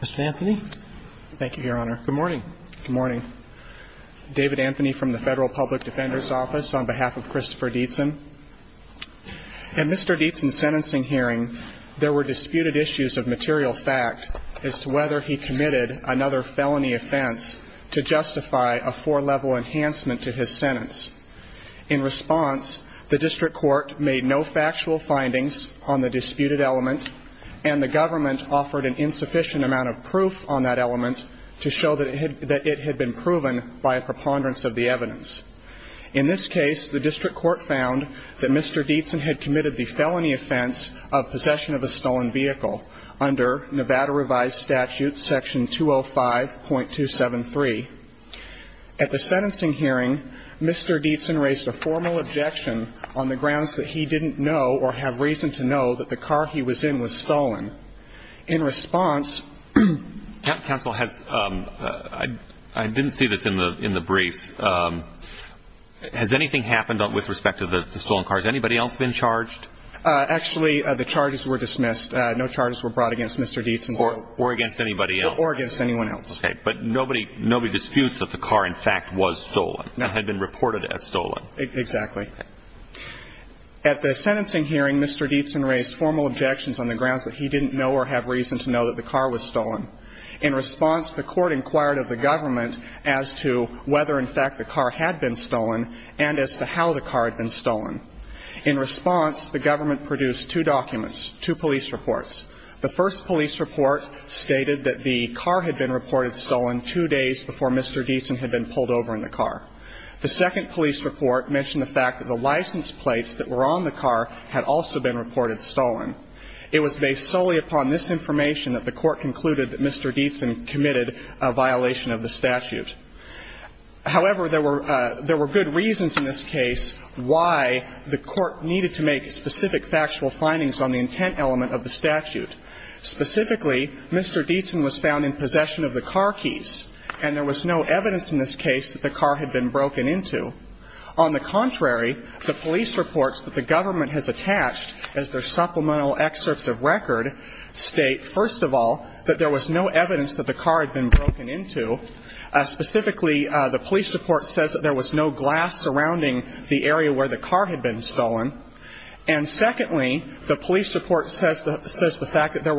Mr. Anthony? Thank you, Your Honor. Good morning. Good morning. David Anthony from the Federal Public Defender's Office on behalf of Christopher Deitzen. In Mr. Deitzen's sentencing hearing, there were disputed issues of material fact as to whether he committed another felony offense to justify a four-level enhancement to his sentence. In response, the District Court found that Mr. Deitzen had committed the felony offense of possession of a stolen vehicle under Nevada revised statute section 205.273. At the sentencing hearing, Mr. Deitzen raised a formal objection on the grounds that he didn't know or have reason to know that the car he was in was stolen. In response, the District Court found that Mr. Deitzen Mr. Deitzen raised formal objections on the grounds that he didn't know or have reason to know that the car he was in was stolen. In response, the District Court found that Mr. Deitzen had been reported stolen two days before Mr. Deitzen had been pulled over in the car. The second police report mentioned the fact that the license plates that were on the car had also been reported stolen. It was based solely upon this Mr. Deitzen committed a violation of the statute. However, there were good reasons in this case why the court needed to make specific factual findings on the intent element of the statute. Specifically, Mr. Deitzen was found in possession of the car keys, and there was no evidence in this case that the car had been broken into. On the contrary, the police reports that the government has attached as their supplemental excerpts of record state, first of all, that there was no evidence that the car had been broken into. Specifically, the police report says that there was no glass surrounding the area where the car had been stolen. And secondly, the police report says the fact that there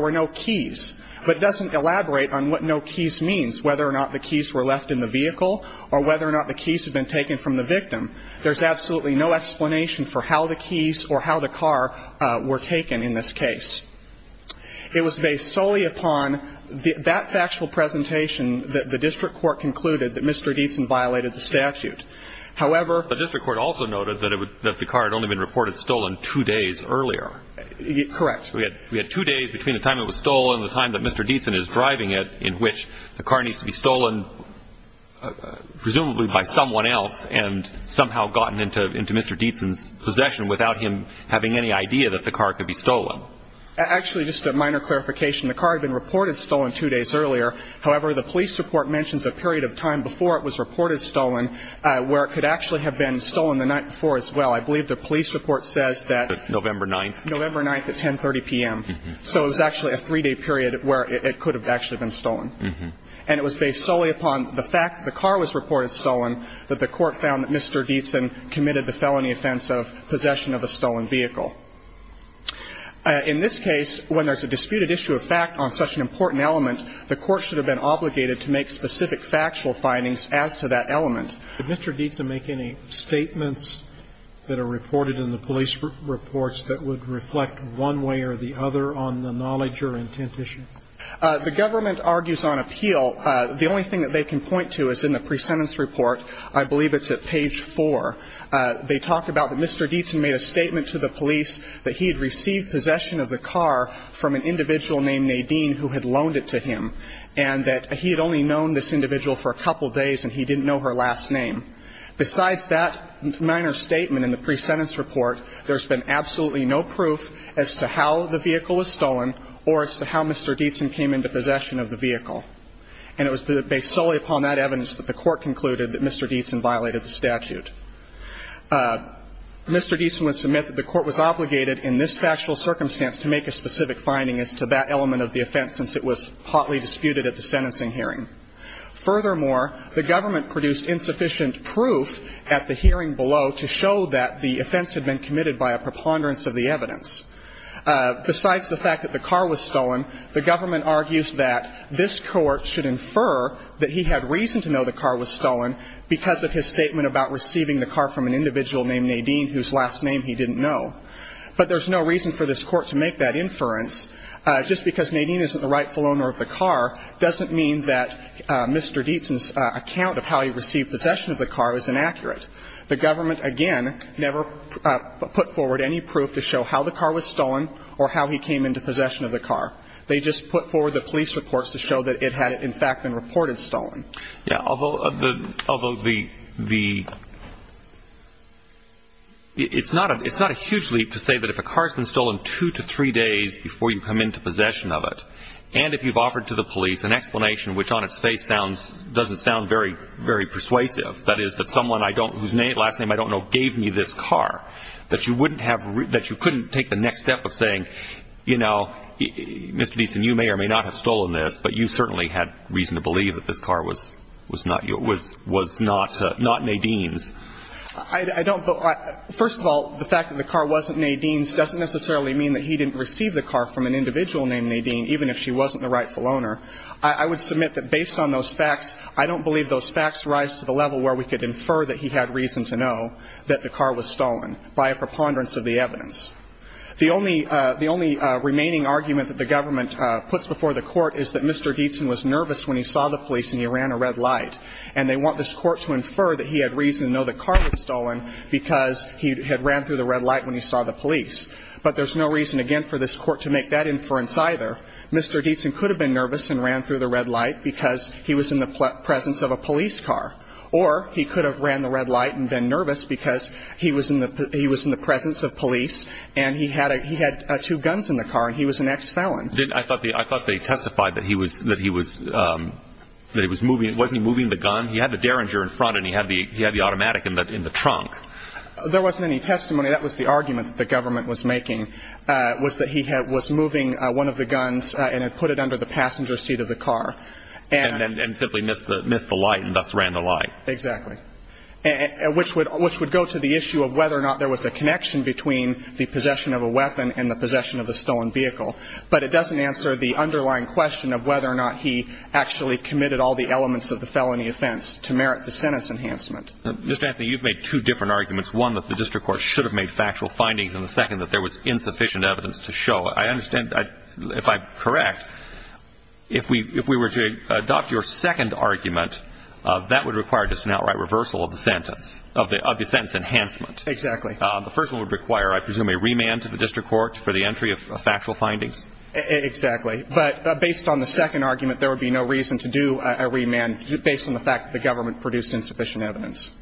were no keys. But it doesn't elaborate on what no keys means, whether or not the keys were left in the vehicle, or whether or not the keys had been taken from the victim. There's absolutely no explanation for how the keys or how the car were taken in this case. It was based solely upon that factual presentation that the district court concluded that Mr. Deitzen violated the statute. However, the district court also noted that the car had only been reported stolen two days earlier. Correct. We had two days between the time it was stolen and the time that Mr. Deitzen is driving it, in which the car needs to be stolen, presumably by someone else, and somehow gotten into Mr. Deitzen's possession without him having any idea that the car could be stolen. Actually, just a minor clarification. The car had been reported stolen two days earlier. However, the police report mentions a period of time before it was reported stolen, where it could actually have been stolen the night before as well. I believe the police report says that November 9th at 10.30 p.m. So it was actually a three-day period where it could have actually been stolen. And it was based solely upon the fact that the car was reported stolen, that the court found that Mr. Deitzen committed the felony offense of possession of a stolen vehicle. In this case, when there's a disputed issue of fact on such an important element, the court should have been obligated to make specific factual findings as to that element. Did Mr. Deitzen make any statements that are reported in the police reports that would reflect one way or the other on the knowledge or intent issue? The government argues on appeal. The only thing that they can point to is in the pre-sentence report. I believe it's at page 4. They talk about that Mr. Deitzen made a statement to the police that he had received possession of the car from an individual named Nadine who had loaned it to him, and that he had only known this individual for a couple days and he didn't know her last name. Besides that minor statement in the pre-sentence report, there's been absolutely no proof as to how the vehicle was stolen or as to how Mr. Deitzen came into possession of the vehicle. And it was based solely upon that evidence that the court concluded that Mr. Deitzen violated the statute. Mr. Deitzen would submit that the court was obligated in this factual circumstance to make a specific finding as to that element of the offense since it was hotly disputed at the sentencing hearing. Furthermore, the government produced insufficient proof at the hearing below to show that the offense had been committed by a preponderance of the evidence. Besides the fact that the car was stolen, the government argues that this Court should infer that he had reason to know the car was stolen because of his statement about receiving the car from an individual named Nadine whose last name he didn't know. But there's no reason for this Court to make that inference. Just because Nadine isn't the rightful owner of the car doesn't mean that Mr. Deitzen's account of how he received possession of the car is inaccurate. The government, again, never put forward any proof to show how the car was stolen or how he came into possession of the car. It's not a huge leap to say that if a car has been stolen two to three days before you come into possession of it, and if you've offered to the police an explanation which on its face doesn't sound very persuasive, that is that someone whose last name I don't know gave me this car, that you couldn't take the next step of saying, you know, Mr. Deitzen, you may or may not have stolen this, but you certainly had reason to believe that this car was not yours, was not Nadine's. I don't. First of all, the fact that the car wasn't Nadine's doesn't necessarily mean that he didn't receive the car from an individual named Nadine, even if she wasn't the rightful owner. I would submit that based on those facts, I don't believe those facts rise to the level where we could infer that he had reason to know that the car was stolen by a preponderance of the evidence. The only remaining argument that the government puts before the Court is that Mr. Deitzen was in the presence of the police and he ran a red light, and they want this Court to infer that he had reason to know the car was stolen because he had ran through the red light when he saw the police. But there's no reason, again, for this Court to make that inference either. Mr. Deitzen could have been nervous and ran through the red light because he was in the presence of a police car, or he could have ran the red light and been nervous because he was in the presence of police and he had two guns in the car and he was an ex-felon. I thought they testified that he was moving, wasn't he moving the gun? He had the Derringer in front and he had the automatic in the trunk. There wasn't any testimony. That was the argument that the government was making, was that he was moving one of the guns and had put it under the passenger seat of the car. And simply missed the light and thus ran the light. Exactly. Which would go to the issue of whether or not there was a connection between the possession of a weapon and the possession of a stolen vehicle. But it doesn't answer the underlying question of whether or not he actually committed all the elements of the felony offense to merit the sentence enhancement. Mr. Anthony, you've made two different arguments. One, that the district court should have made factual findings, and the second, that there was insufficient evidence to show. I understand if I'm correct, if we were to adopt your second argument, that would require just an outright reversal of the sentence, of the sentence enhancement. Exactly. The first one would require, I presume, a remand to the district court for the entry of factual findings. Exactly. But based on the second argument, there would be no reason to do a remand based on the fact that the government produced insufficient evidence.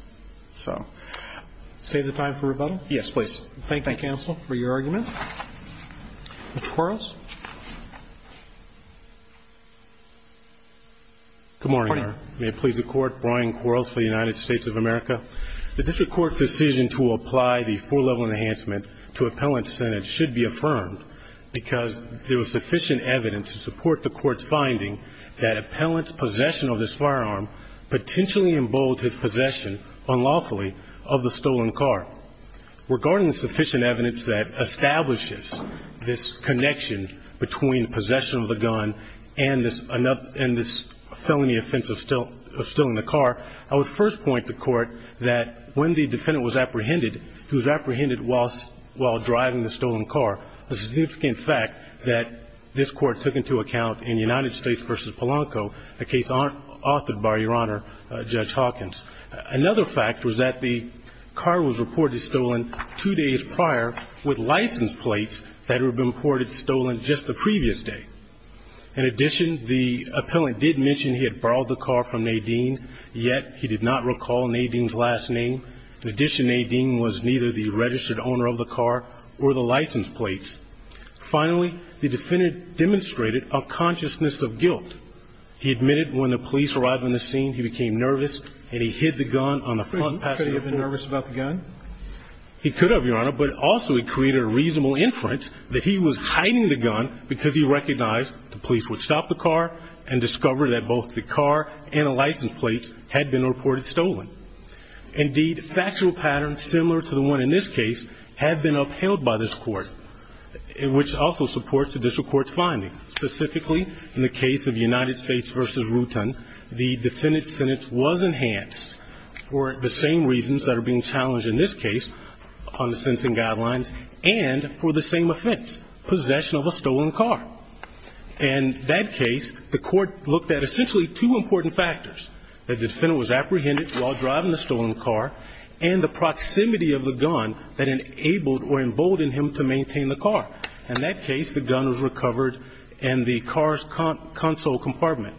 Save the time for rebuttal? Yes, please. Thank you, counsel, for your argument. Mr. Quarles. Good morning, Your Honor. Good morning. May it please the Court, Brian Quarles for the United States of America. The district court's decision to apply the four-level enhancement to appellant sentence should be affirmed because there was sufficient evidence to support the court's finding that appellant's possession of this firearm potentially emboldened his possession, unlawfully, of the stolen car. Regarding the sufficient evidence that establishes this connection between possession of the gun and this felony offense of stealing the car, I would first point to court that when the defendant was apprehended, he was apprehended while driving the stolen car, a significant fact that this court took into account in United States v. Polanco, a case authored by, Your Honor, Judge Hawkins. Another fact was that the car was reported stolen two days prior with license plates that had been reported stolen just the previous day. In addition, the appellant did mention he had borrowed the car from Nadine, yet he did not recall Nadine's last name. In addition, Nadine was neither the registered owner of the car or the license plates. Finally, the defendant demonstrated a consciousness of guilt. He admitted when the police arrived on the scene he became nervous and he hid the gun on the front passenger seat. Could he have been nervous about the gun? He could have, Your Honor, but also he created a reasonable inference that he was hiding the gun because he recognized the police would stop the car and discover that both the car and the license plates had been reported stolen. Indeed, factual patterns similar to the one in this case had been upheld by this court, which also supports the district court's finding. Specifically, in the case of United States v. Rutan, the defendant's sentence was enhanced for the same reasons that are being challenged in this case on the sentencing guidelines and for the same offense, possession of a stolen car. In that case, the court looked at essentially two important factors, that the defendant was apprehended while driving the stolen car and the proximity of the gun that enabled or emboldened him to maintain the car. In that case, the gun was recovered in the car's console compartment.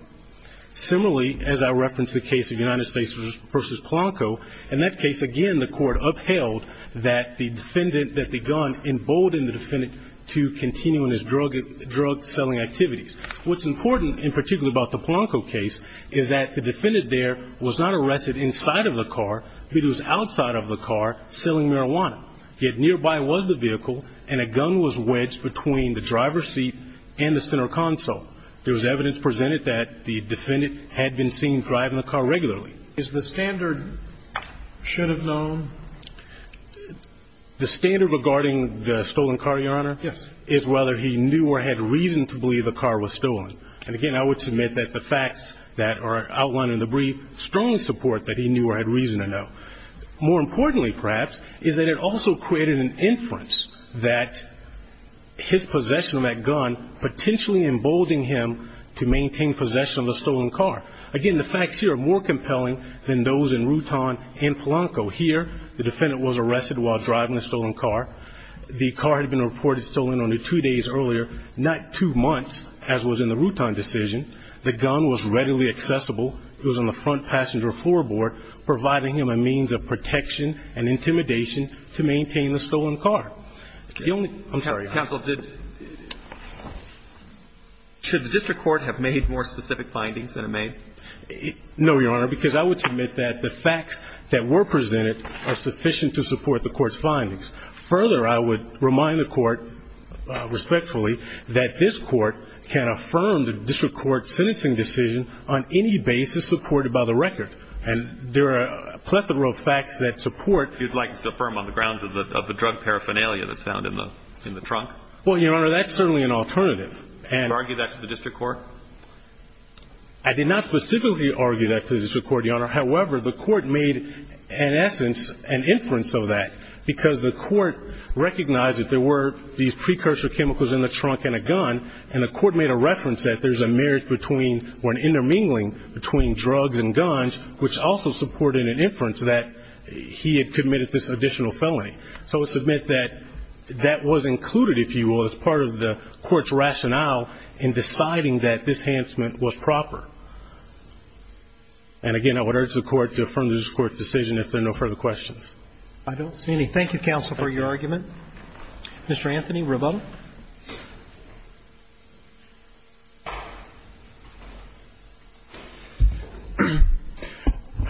Similarly, as I referenced the case of United States v. Polanco, in that case, again, the court upheld that the defendant, that the gun emboldened the defendant to continue in his drug-selling activities. What's important, in particular about the Polanco case, is that the defendant there was not arrested inside of the car, but he was outside of the car selling marijuana. Yet nearby was the vehicle and a gun was wedged between the driver's seat and the center console. There was evidence presented that the defendant had been seen driving the car regularly. Is the standard should have known? The standard regarding the stolen car, Your Honor? Yes. Is whether he knew or had reason to believe the car was stolen. And again, I would submit that the facts that are outlined in the brief strongly support that he knew or had reason to know. More importantly, perhaps, is that it also created an inference that his possession of that gun potentially emboldened him to maintain possession of the stolen car. Again, the facts here are more compelling than those in Rutan and Polanco. Here, the defendant was arrested while driving a stolen car. The car had been reported stolen only two days earlier, not two months, as was in the Rutan decision. The gun was readily accessible. It was on the front passenger floorboard, providing him a means of protection and intimidation to maintain the stolen car. I'm sorry. Counsel, should the district court have made more specific findings than it made? No, Your Honor, because I would submit that the facts that were presented are sufficient to support the court's findings. Further, I would remind the court respectfully that this court can affirm the district court's sentencing decision on any basis supported by the record. And there are a plethora of facts that support. You'd like us to affirm on the grounds of the drug paraphernalia that's found in the trunk? Well, Your Honor, that's certainly an alternative. Did you argue that to the district court? I did not specifically argue that to the district court, Your Honor. However, the court made, in essence, an inference of that, because the court recognized that there were these precursor chemicals in the trunk in a gun, and the court made a reference that there's a marriage between or an intermingling between drugs and guns, which also supported an inference that he had committed this additional felony. So I would submit that that was included, if you will, as part of the court's rationale in deciding that this enhancement was proper. And again, I would urge the court to affirm the district court's decision if there are no further questions. I don't see any. Thank you, counsel, for your argument. Mr. Anthony, rebuttal?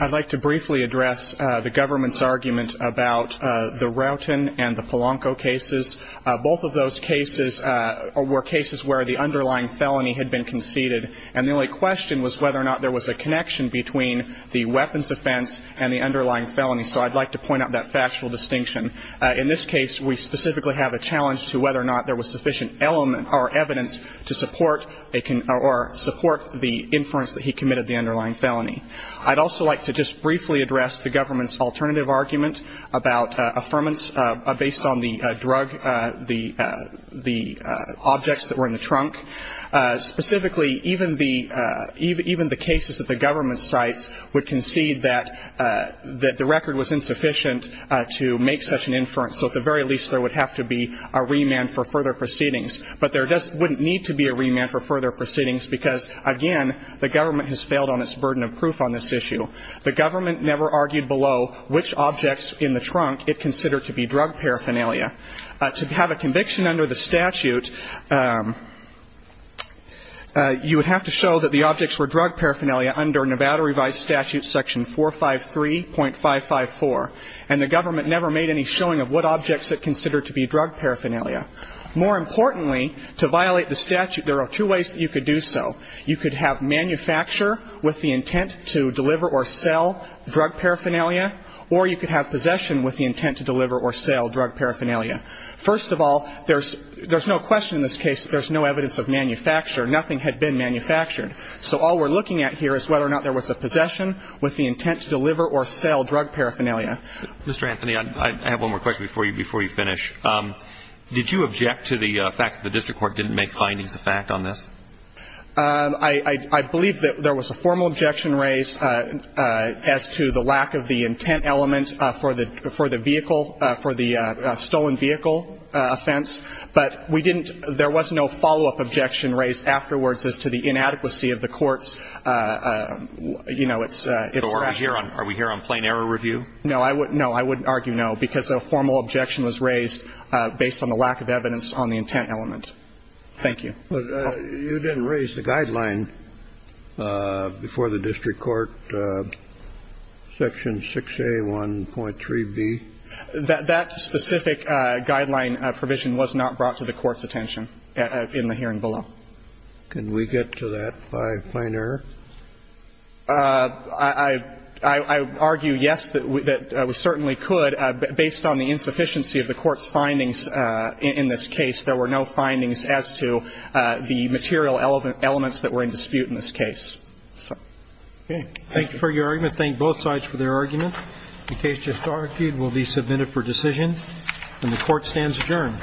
I'd like to briefly address the government's argument about the Roughton and the Polanco cases. Both of those cases were cases where the underlying felony had been conceded, and the only question was whether or not there was a connection between the weapons offense and the underlying felony. So I'd like to point out that factual distinction. In this case, we specifically have a challenge to whether or not there was sufficient evidence to support or support the inference that he committed the underlying felony. I'd also like to just briefly address the government's alternative argument about based on the drug, the objects that were in the trunk. Specifically, even the cases that the government cites would concede that the record was insufficient to make such an inference, so at the very least there would have to be a remand for further proceedings. But there wouldn't need to be a remand for further proceedings because, again, the government has failed on its burden of proof on this issue. The government never argued below which objects in the trunk it considered to be drug paraphernalia. To have a conviction under the statute, you would have to show that the objects were drug paraphernalia under Nevada revised statute section 453.554, and the government never made any showing of what objects it considered to be drug paraphernalia. More importantly, to violate the statute, there are two ways that you could do so. You could have manufacture with the intent to deliver or sell drug paraphernalia, or you could have possession with the intent to deliver or sell drug paraphernalia. First of all, there's no question in this case there's no evidence of manufacture. Nothing had been manufactured. So all we're looking at here is whether or not there was a possession with the intent to deliver or sell drug paraphernalia. Mr. Anthony, I have one more question before you finish. Did you object to the fact that the district court didn't make findings of fact on this? I believe that there was a formal objection raised as to the lack of the intent element for the vehicle, for the stolen vehicle offense, but we didn't – there was no follow-up objection raised afterwards as to the inadequacy of the court's, you know, its rationale. Are we here on plain error review? No, I wouldn't argue no, because a formal objection was raised based on the lack of evidence on the intent element. Thank you. You didn't raise the guideline before the district court, Section 6A1.3b? That specific guideline provision was not brought to the court's attention in the hearing below. Can we get to that by plain error? I argue yes, that we certainly could. Based on the insufficiency of the court's findings in this case, there were no findings as to the material elements that were in dispute in this case. Okay. Thank you for your argument. Thank both sides for their argument. The case just argued will be submitted for decision, and the Court stands adjourned. Thank you.